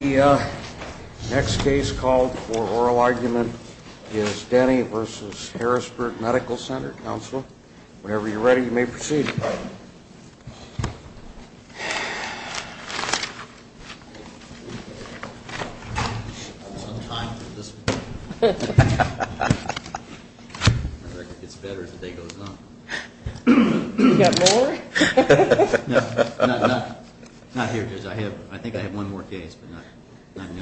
The next case called for oral argument is Denny v. Harrisburg Medical Center. Counsel, whenever you're ready, you may proceed. I think I have one more case, but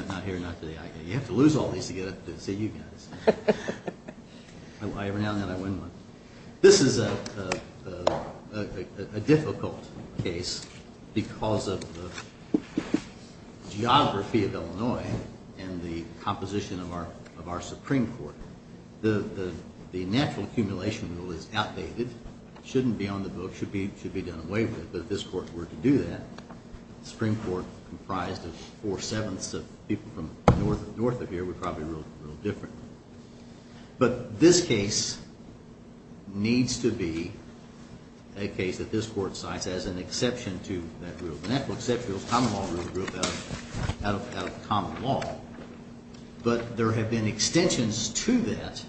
not here, not today. You have to lose all these to get up to see you guys. Every now and then I win one. This is a difficult case because of the geography of Illinois and the composition of our Supreme Court. The natural accumulation rule is outdated. It shouldn't be on the book. It should be done away with, but if this Court were to do that, the Supreme Court comprised of four-sevenths of people from north of here would probably rule it differently. But this case needs to be a case that this Court cites as an exception to that rule. The natural exception rule is a common law rule that grew out of common law. But there have been extensions to that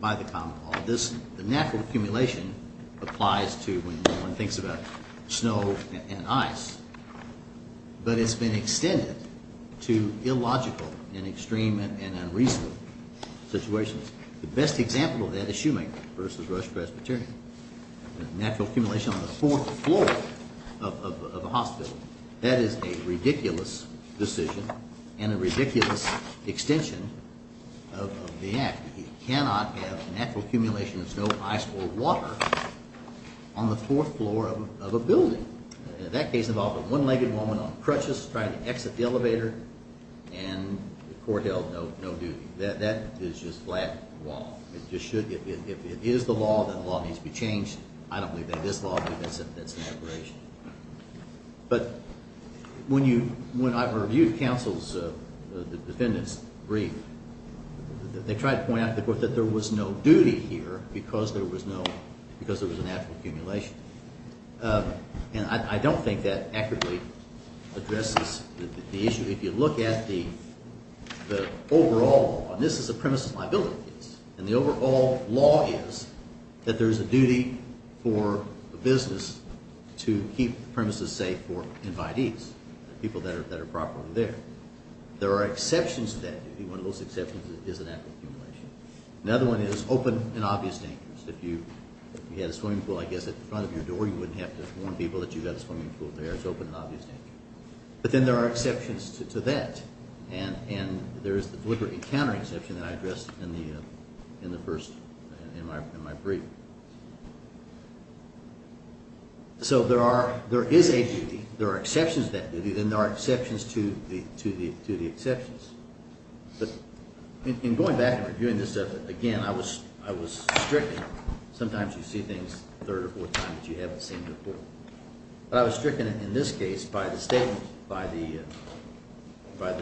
by the common law. The natural accumulation applies to when one thinks about snow and ice, but it's been extended to illogical and extreme and unreasonable situations. The best example of that is Schumann v. Rush Presbyterian. The natural accumulation on the fourth floor of a hospital, that is a ridiculous decision and a ridiculous extension of the act. You cannot have natural accumulation of snow, ice, or water on the fourth floor of a building. That case involved a one-legged woman on crutches trying to exit the elevator and the Court held no duty. That is just flat law. If it is the law, then the law needs to be changed. I don't believe that this law, because that's an aberration. But when I reviewed counsel's defendants' brief, they tried to point out to the Court that there was no duty here because there was a natural accumulation. And I don't think that accurately addresses the issue. If you look at the overall law, and this is a premises liability case, and the overall law is that there is a duty for a business to keep premises safe for invitees, people that are properly there. There are exceptions to that duty. One of those exceptions is a natural accumulation. Another one is open and obvious dangers. If you had a swimming pool, I guess, at the front of your door, you wouldn't have to warn people that you've got a swimming pool there. It's open and obvious danger. But then there are exceptions to that. And there is the deliberate encounter exception that I addressed in my brief. So there is a duty. There are exceptions to that duty. Then there are exceptions to the exceptions. But in going back and reviewing this stuff, again, I was stricken. Sometimes you see things a third or fourth time that you haven't seen before. But I was stricken in this case by the statement by the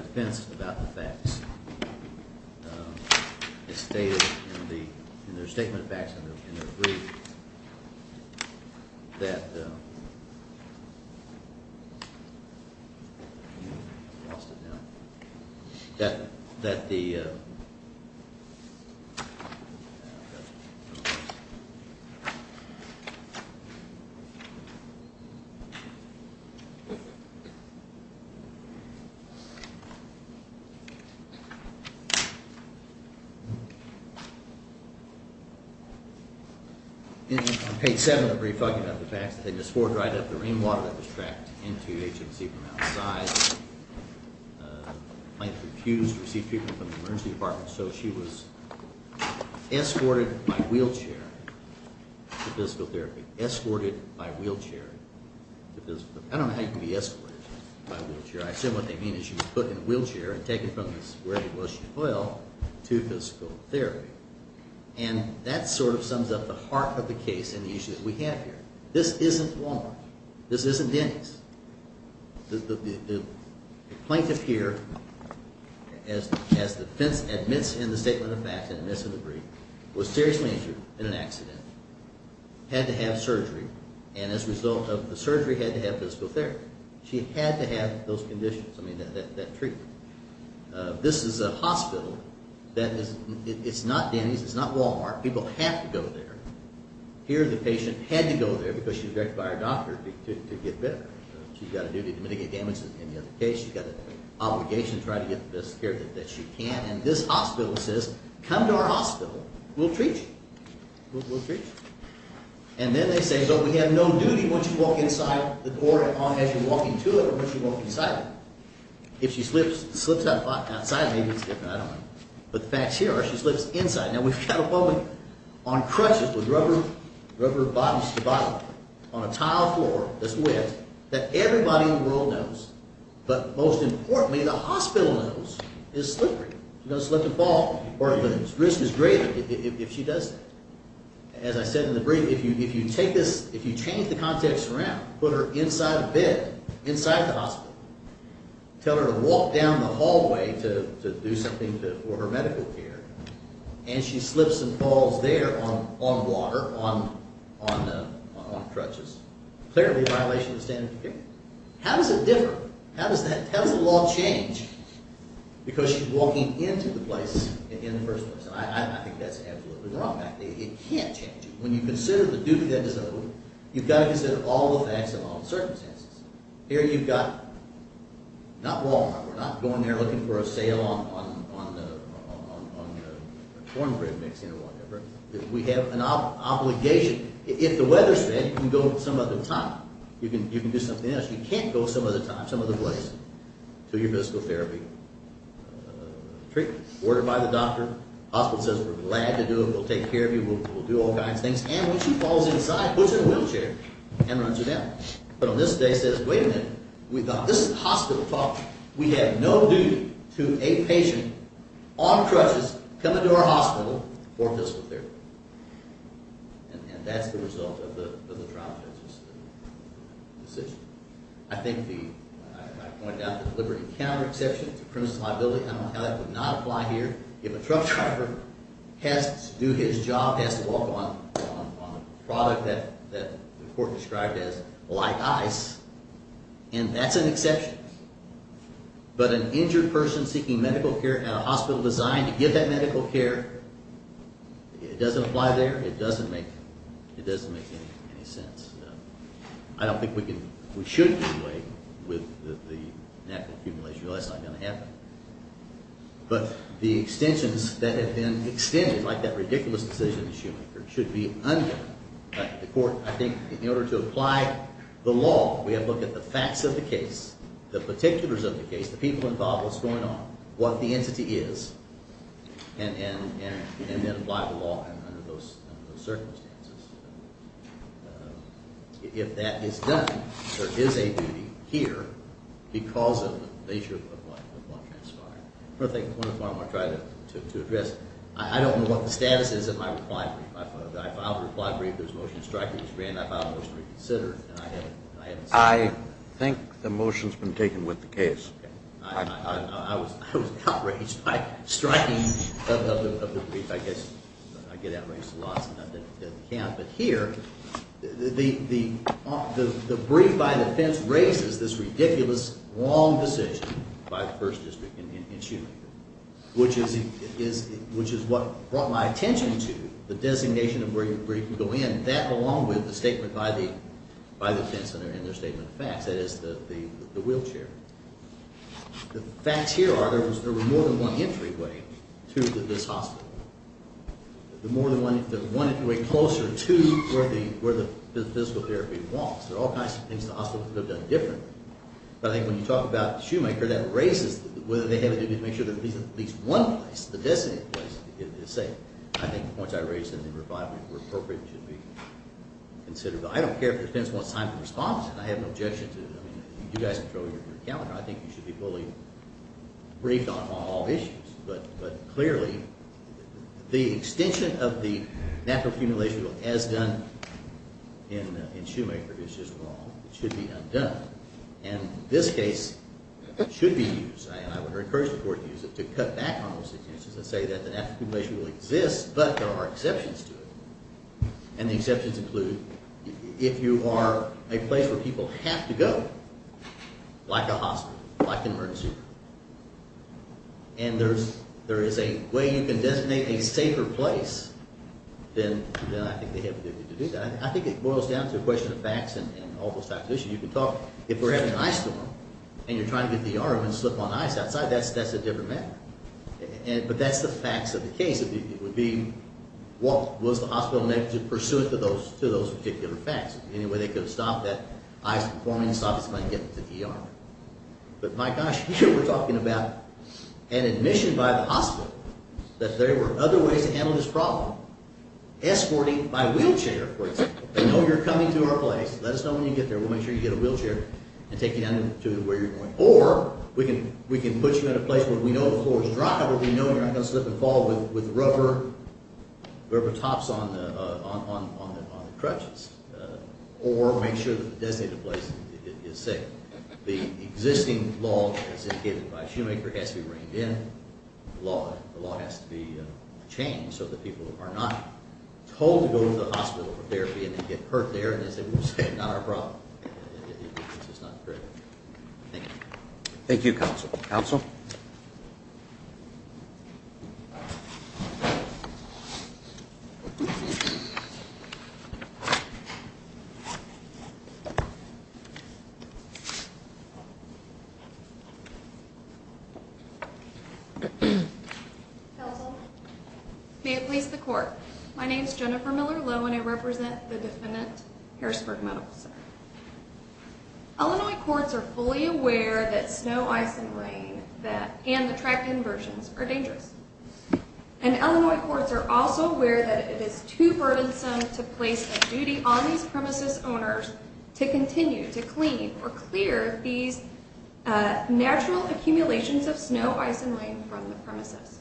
defense about the facts. It stated in their statement of facts in their brief that the Okay. In page 7 of the brief, I'll give you the facts. They just poured right up the rainwater that was tracked into HMC from outside. Might have refused to receive treatment from the emergency department. So she was escorted by wheelchair to physical therapy. Escorted by wheelchair. I don't know how you can be escorted by wheelchair. I assume what they mean is she was put in a wheelchair and taken from where she fell to physical therapy. And that sort of sums up the heart of the case and the issue that we have here. This isn't Walmart. This isn't Denny's. The plaintiff here, as the defense admits in the statement of facts and admits in the brief, was seriously injured in an accident. Had to have surgery. And as a result of the surgery, had to have physical therapy. She had to have those conditions. I mean, that treatment. This is a hospital. It's not Denny's. It's not Walmart. People have to go there. Here, the patient had to go there because she was directed by her doctor to get better. She's got a duty to mitigate damage in the other case. She's got an obligation to try to get the best care that she can. And this hospital says, come to our hospital. We'll treat you. We'll treat you. And then they say, but we have no duty once you walk inside the door as you walk into it or once you walk inside it. If she slips outside, maybe it's different. I don't know. But the facts here are she slips inside. Now, we've got a woman on crutches with rubber bottoms to bottom on a tile floor that's wet that everybody in the world knows, but most importantly, the hospital knows, is slippery. She's going to slip and fall. But the risk is greater if she does that. As I said in the brief, if you change the context around, put her inside a bed, inside the hospital, tell her to walk down the hallway to do something for her medical care, and she slips and falls there on water, on crutches, clearly a violation of the standards of care. How does it differ? How does the law change because she's walking into the place in the first place? I think that's absolutely wrong. It can't change. When you consider the duty that is owed, you've got to consider all the facts and all the circumstances. Here you've got not Walmart. We're not going there looking for a sale on cornbread mixing or whatever. We have an obligation. If the weather's bad, you can go some other time. You can do something else. You can't go some other place to your physical therapy treatment. Ordered by the doctor, the hospital says, We're glad to do it. We'll take care of you. We'll do all kinds of things. And when she falls inside, puts her in a wheelchair and runs her down. But on this day says, Wait a minute. This is hospital talk. We have no duty to a patient on crutches coming to our hospital for physical therapy. And that's the result of the trial judge's decision. I think the – I pointed out the deliberate encounter exception. It's a criminal liability. I don't know how that would not apply here. If a truck driver has to do his job, has to walk on a product that the court described as light ice, and that's an exception. But an injured person seeking medical care at a hospital designed to give that medical care, it doesn't apply there. It doesn't make any sense. I don't think we can – we shouldn't do away with the NAPA accumulation. That's not going to happen. But the extensions that have been extended, like that ridiculous decision that she made, should be undone. The court, I think, in order to apply the law, we have to look at the facts of the case, the particulars of the case, the people involved, what's going on, what the entity is, and then apply the law under those circumstances. If that is done, there is a duty here because of the nature of what transpired. One of the things I want to try to address. I don't know what the status is of my reply brief. I filed a reply brief. There was a motion to strike. It was granted. I filed a motion to reconsider, and I haven't seen that. I think the motion's been taken with the case. I was outraged by striking of the brief. I guess I get outraged a lot sometimes at the camp. But here, the brief by the fence raises this ridiculous, wrong decision by the First District in shooting, which is what brought my attention to the designation of where you can go in. That along with the statement by the fence and their statement of facts. That is the wheelchair. The facts here are there were more than one entryway to this hospital. The more than one entryway closer to where the physical therapy was. There are all kinds of things the hospital could have done differently. But I think when you talk about Shoemaker, that raises whether they have a duty to make sure there's at least one place, the designated place, is safe. I think the points I raised in reply brief were appropriate and should be considered. But I don't care if the fence wants time to respond. I have no objection to it. I mean, you guys control your calendar. I think you should be fully briefed on all issues. But clearly, the extension of the natural accumulation rule as done in Shoemaker is just wrong. It should be undone. And this case should be used. I would encourage the Court to use it to cut back on those extensions and say that the natural accumulation rule exists, but there are exceptions to it. And the exceptions include if you are a place where people have to go, like a hospital, like an emergency room, and there is a way you can designate a safer place, then I think they have a duty to do that. I think it boils down to a question of facts and all those types of issues. You can talk, if we're having an ice storm and you're trying to get the arm and slip on ice outside, that's a different matter. But that's the facts of the case. It would be what was the hospital in a negative pursuit to those particular facts. Any way they could have stopped that ice from forming and stopped us from getting to the arm. But my gosh, we're talking about an admission by the hospital that there were other ways to handle this problem. Escorting by wheelchair, for example. They know you're coming to our place. Let us know when you get there. We'll make sure you get a wheelchair and take you down to where you're going. Or we can put you in a place where we know the floor is dry, where we know you're not going to slip and fall with rubber tops on the crutches. Or make sure that the designated place is safe. The existing law, as indicated by Shoemaker, has to be reigned in. The law has to be changed so that people are not told to go to the hospital for therapy and then get hurt there, as they would say, not our problem. Thank you. Thank you, Counsel. Counsel? Counsel? May it please the Court. My name is Jennifer Miller-Lowe, and I represent the defendant, Harrisburg Medical Center. Illinois courts are fully aware that snow, ice, and rain and the track inversions are dangerous. And Illinois courts are also aware that it is too burdensome to place a duty on these premises owners to continue to clean or clear these natural accumulations of snow, ice, and rain from the premises.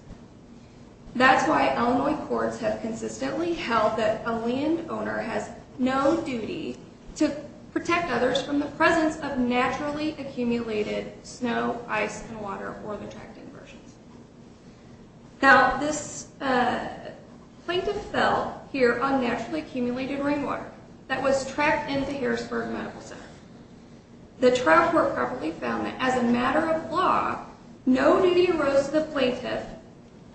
That's why Illinois courts have consistently held that a landowner has no duty to protect others from the presence of naturally accumulated snow, ice, and water or the track inversions. Now, this plaintiff fell here on naturally accumulated rainwater that was tracked into Harrisburg Medical Center. The trial court properly found that as a matter of law, no duty arose to the plaintiff,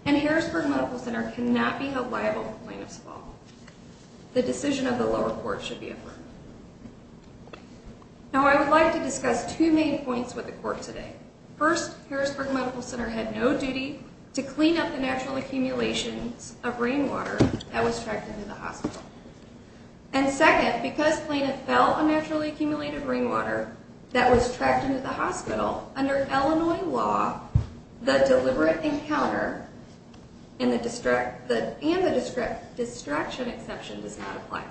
and Harrisburg Medical Center cannot be held liable for the plaintiff's fall. The decision of the lower court should be affirmed. Now, I would like to discuss two main points with the court today. First, Harrisburg Medical Center had no duty to clean up the natural accumulations of rainwater that was tracked into the hospital. And second, because plaintiff fell on naturally accumulated rainwater that was tracked into the hospital, under Illinois law, the deliberate encounter and the distraction exception does not apply.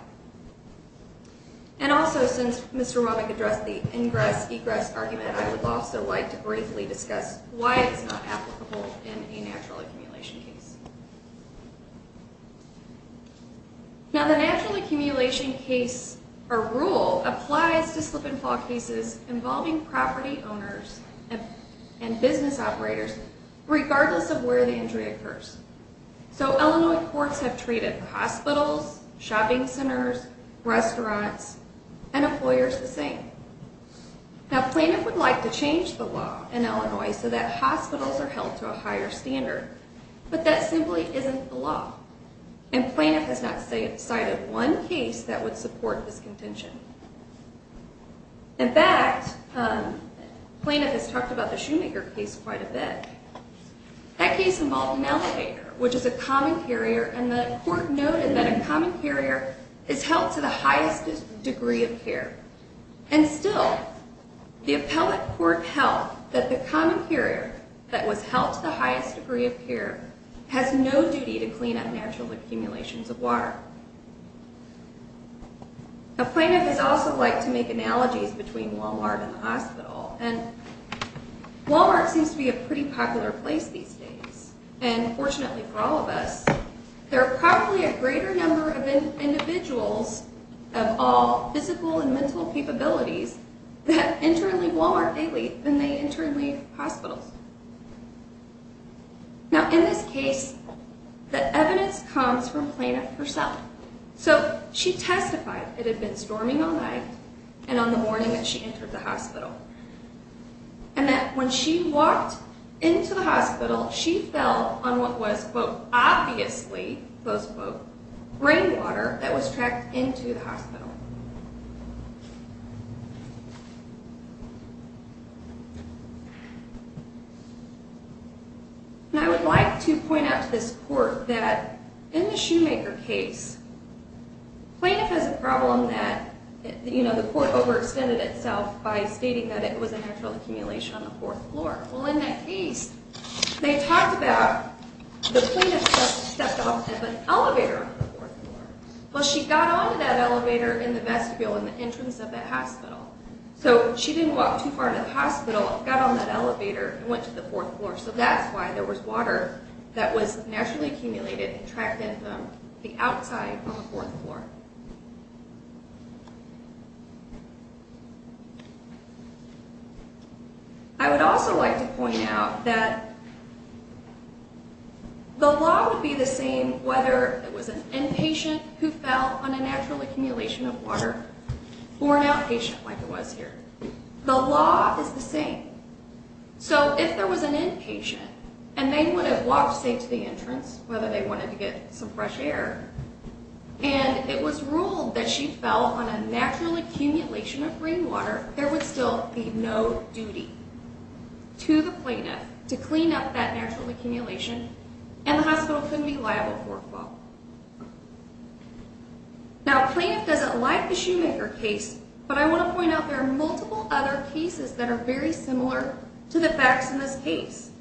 And also, since Mr. Romick addressed the ingress-egress argument, I would also like to briefly discuss why it's not applicable in a natural accumulation case. Now, the natural accumulation case, or rule, applies to slip-and-fall cases involving property owners and business operators, regardless of where the injury occurs. So, Illinois courts have treated hospitals, shopping centers, restaurants, and employers the same. Now, plaintiff would like to change the law in Illinois so that hospitals are held to a higher standard, but that simply isn't the law. And plaintiff has not cited one case that would support this contention. In fact, plaintiff has talked about the Shoemaker case quite a bit. That case involved an elevator, which is a common carrier, and the court noted that a common carrier is held to the highest degree of care. And still, the appellate court held that the common carrier that was held to the highest degree of care has no duty to clean up natural accumulations of water. Now, plaintiff has also liked to make analogies between Walmart and the hospital. And Walmart seems to be a pretty popular place these days. And fortunately for all of us, there are probably a greater number of individuals of all physical and mental capabilities that internally Walmart daily than they internally hospitals. Now, in this case, the evidence comes from plaintiff herself. So, she testified it had been storming all night and on the morning that she entered the hospital. And that when she walked into the hospital, she fell on what was, quote, obviously, close quote, rainwater that was tracked into the hospital. And I would like to point out to this court that in the Shoemaker case, plaintiff has a problem that, you know, the court overextended itself by stating that it was a natural accumulation on the fourth floor. Well, in that case, they talked about the plaintiff stepped off of an elevator on the fourth floor. Well, she got on to that elevator in the vestibule in the entrance of the hospital. So, she didn't walk too far to the hospital, got on that elevator and went to the fourth floor. So, that's why there was water that was naturally accumulated and tracked in from the outside on the fourth floor. I would also like to point out that the law would be the same whether it was an inpatient who fell on a natural accumulation of water or an outpatient like it was here. The law is the same. So, if there was an inpatient and they would have walked, say, to the entrance, whether they wanted to get some fresh air, and it was ruled that she fell on a natural accumulation of rainwater, there would still be no duty to the plaintiff to clean up that natural accumulation and the hospital couldn't be liable for a fault. Now, plaintiff doesn't like the Shoemaker case, but I want to point out there are multiple other cases that are very similar to the facts in this case,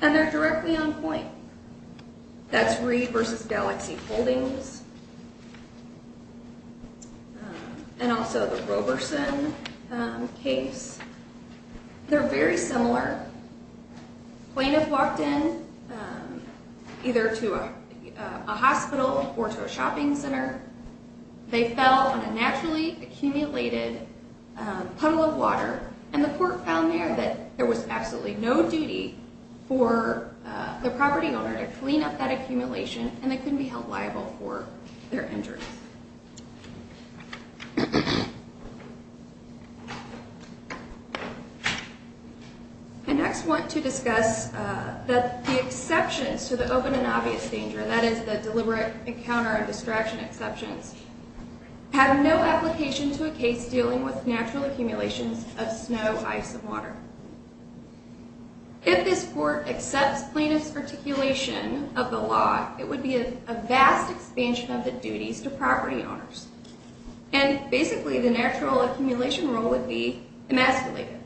and they're directly on point. That's Reed v. Galaxy Holdings and also the Roberson case. They're very similar. Plaintiff walked in either to a hospital or to a shopping center. They fell on a naturally accumulated puddle of water, and the court found there that there was absolutely no duty for the property owner to clean up that accumulation and they couldn't be held liable for their injuries. I next want to discuss the exceptions to the open and obvious danger, and that is the deliberate encounter and distraction exceptions, have no application to a case dealing with natural accumulations of snow, ice, and water. If this court accepts plaintiff's articulation of the law, it would be a vast expansion of the duties to property owners, and basically the natural accumulation rule would be emasculated.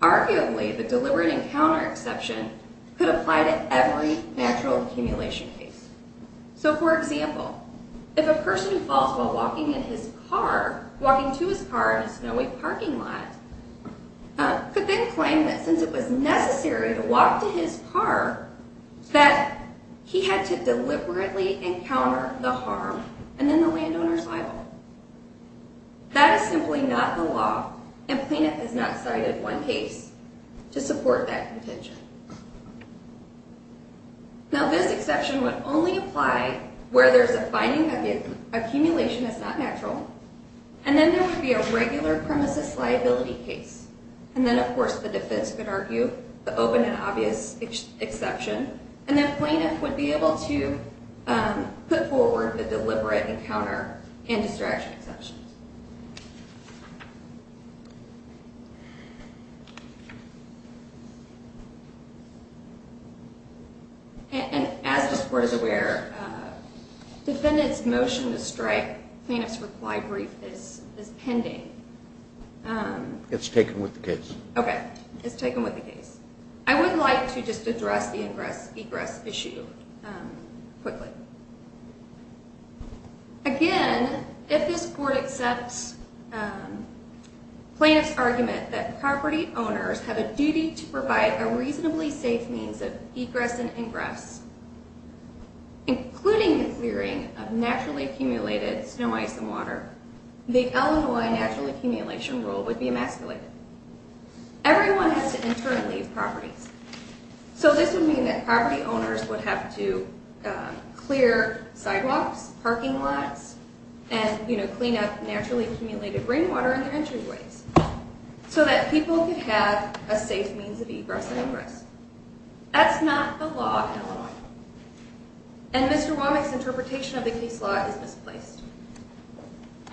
Arguably, the deliberate encounter exception could apply to every natural accumulation case. So, for example, if a person falls while walking in his car, walking to his car in a snowy parking lot, could then claim that since it was necessary to walk to his car, that he had to deliberately encounter the harm and then the landowner's liable. That is simply not the law, and plaintiff has not cited one case to support that contention. Now, this exception would only apply where there's a finding that the accumulation is not natural, and then there would be a regular premises liability case. And then, of course, the defense could argue the open and obvious exception, and then plaintiff would be able to put forward the deliberate encounter and distraction exception. And as this court is aware, defendant's motion to strike plaintiff's required brief is pending. It's taken with the case. Okay, it's taken with the case. I would like to just address the egress issue quickly. Again, if this court accepts plaintiff's argument that property owners have a duty to provide a reasonably safe means of egress and ingress, including the clearing of naturally accumulated snow, ice, and water, the Illinois natural accumulation rule would be emasculated. Everyone has to internally leave properties. So this would mean that property owners would have to clear sidewalks, parking lots, and clean up naturally accumulated rainwater in their entryways so that people could have a safe means of egress and ingress. That's not the law in Illinois. And Mr. Womack's interpretation of the case law is misplaced.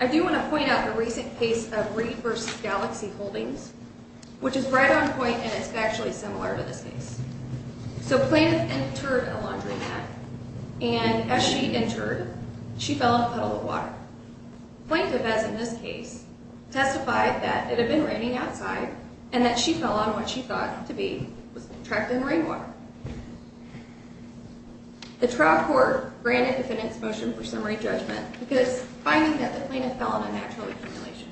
I do want to point out a recent case of Reed v. Galaxy Holdings, which is right on point, and it's actually similar to this case. So plaintiff entered a laundromat, and as she entered, she fell in a puddle of water. Plaintiff, as in this case, testified that it had been raining outside and that she fell on what she thought to be trapped in rainwater. The trial court granted the defendant's motion for summary judgment because it's finding that the plaintiff fell on a natural accumulation.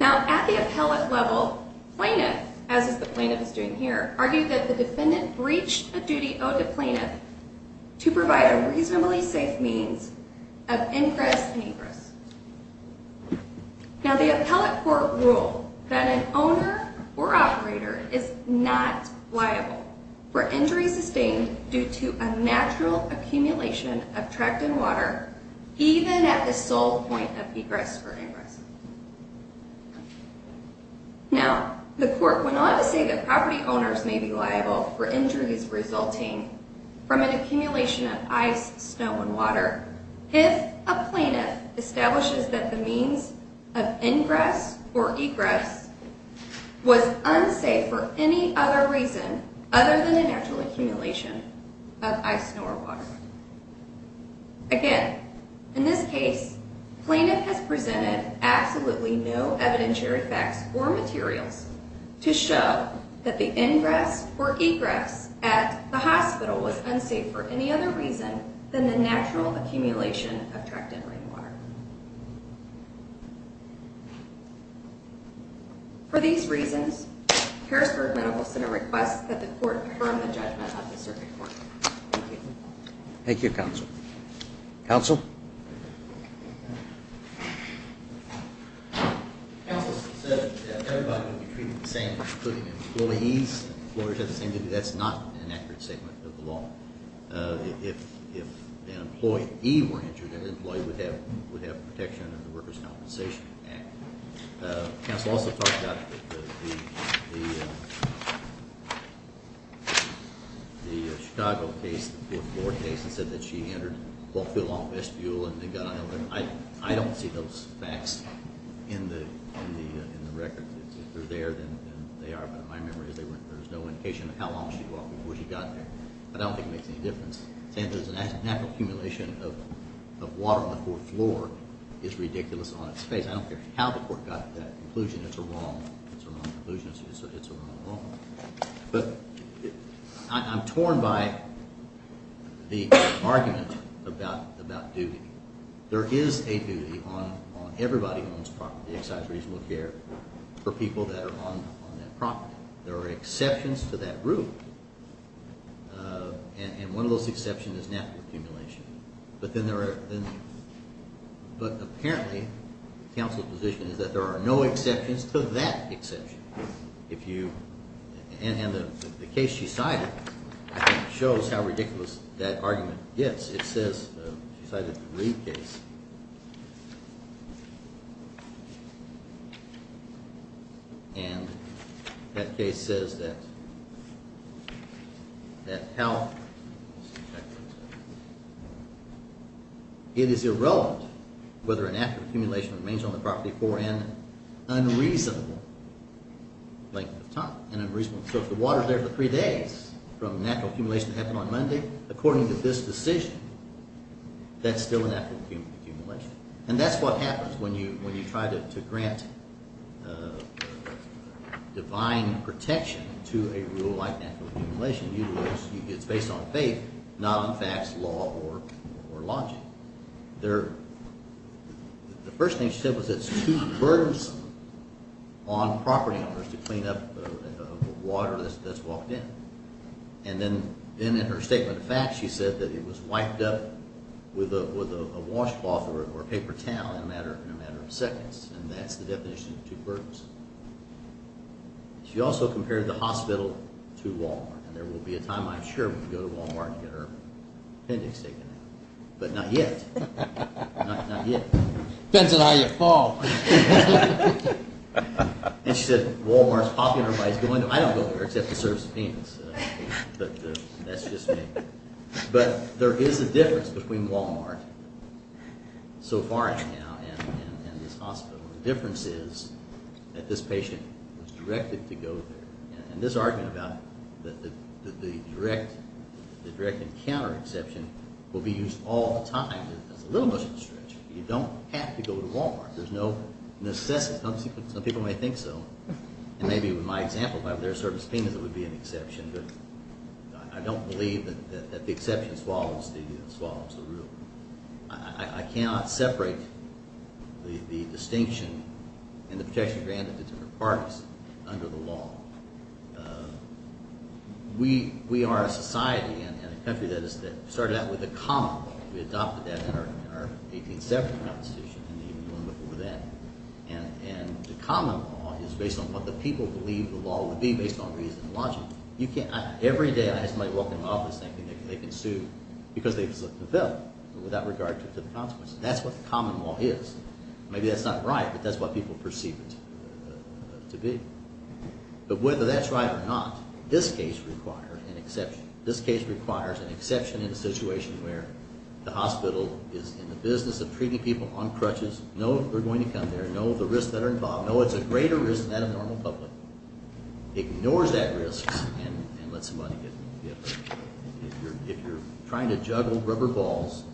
Now, at the appellate level, plaintiff, as the plaintiff is doing here, argued that the defendant breached a duty owed to plaintiff to provide a reasonably safe means of ingress and egress. Now, the appellate court ruled that an owner or operator is not liable for injuries sustained due to a natural accumulation of trapped in water, even at the sole point of egress or ingress. Now, the court went on to say that property owners may be liable for injuries resulting from an accumulation of ice, snow, and water if a plaintiff establishes that the means of ingress or egress was unsafe for any other reason other than a natural accumulation of ice, snow, or water. Again, in this case, plaintiff has presented absolutely no evidentiary facts or materials to show that the ingress or egress at the hospital was unsafe for any other reason than the natural accumulation of trapped in rainwater. For these reasons, Harrisburg Medical Center requests that the court confirm the judgment of the circuit court. Thank you. Thank you, Counsel. Counsel? Counsel said that everybody would be treated the same, including employees, that's not an accurate statement of the law. If an employee were injured, that employee would have protection under the Workers' Compensation Act. Counsel also talked about the Chicago case, the fourth floor case, and said that she entered Wolfville on a vestibule and then got out of it. I don't see those facts in the record. If they're there, then they are, but in my memory, there's no indication of how long she walked before she got there. But I don't think it makes any difference. Saying there's a natural accumulation of water on the fourth floor is ridiculous on its face. I don't care how the court got that conclusion. It's a wrong conclusion. It's a wrong law. But I'm torn by the argument about duty. There is a duty on everybody who owns property, excise, reasonable care. For people that are on that property. There are exceptions to that rule. And one of those exceptions is natural accumulation. But apparently, counsel's position is that there are no exceptions to that exception. And the case she cited, I think, shows how ridiculous that argument gets. It says, she cited the Reed case. And that case says that how it is irrelevant whether a natural accumulation remains on the property for an unreasonable length of time. So if the water's there for three days from natural accumulation that happened on Monday, according to this decision, that's still a natural accumulation. And that's what happens when you try to grant divine protection to a rule like natural accumulation. It's based on faith, not on facts, law, or logic. The first thing she said was it's too burdensome on property owners to clean up the water that's walked in. And then in her statement of facts, she said that it was wiped up with a washcloth or a paper towel in a matter of seconds. And that's the definition of too burdensome. She also compared the hospital to Walmart. And there will be a time, I'm sure, when we go to Walmart and get our appendix taken out. But not yet. Not yet. Depends on how you fall. And she said Walmart's popular. I don't go there except to serve subpoenas. But that's just me. But there is a difference between Walmart so far as now and this hospital. The difference is that this patient was directed to go there. And this argument about the direct and counter exception will be used all the time. That's a little much of a stretch. You don't have to go to Walmart. There's no necessity. Some people may think so. And maybe with my example, if I were there to serve subpoenas, it would be an exception. But I don't believe that the exception swallows the rule. I cannot separate the distinction and the protection granted to different parties under the law. We are a society and a country that started out with a common goal. We adopted that in our 1870 constitution and even before that. And the common law is based on what the people believe the law would be based on reason and logic. Every day I have somebody walk in my office saying they can sue because they've slipped the bill without regard to the consequences. That's what the common law is. Maybe that's not right, but that's what people perceive it to be. But whether that's right or not, this case requires an exception. This case requires an exception in a situation where the hospital is in the business of treating people on crutches. Know they're going to come there. Know the risks that are involved. Know it's a greater risk than that of normal public. Ignores that risk and lets somebody get hurt. If you're trying to juggle rubber balls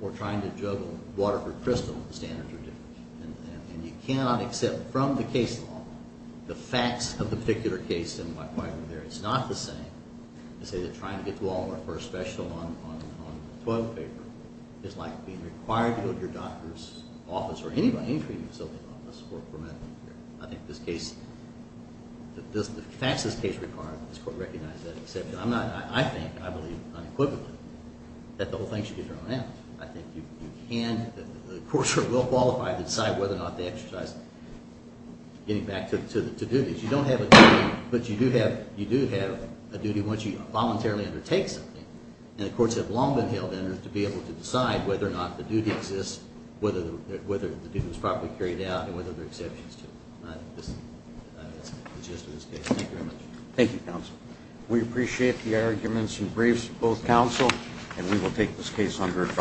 or trying to juggle water for crystal, the standards are different. And you cannot accept from the case law the facts of the particular case. It's not the same to say that trying to get to a Walmart for a special on the 12th of April is like being required to go to your doctor's office or any treatment facility's office for medical care. I think the facts of this case require that this Court recognize that exception. I think, I believe unequivocally, that the whole thing should get thrown out. I think the courts are well qualified to decide whether or not they exercise getting back to the duties. You don't have a duty, but you do have a duty once you voluntarily undertake something. And the courts have long been held in it to be able to decide whether or not the duty exists, whether the duty is properly carried out, and whether there are exceptions to it. I think that's the gist of this case. Thank you very much. Thank you, counsel. We appreciate the arguments and briefs of both counsel, and we will take this case under advise.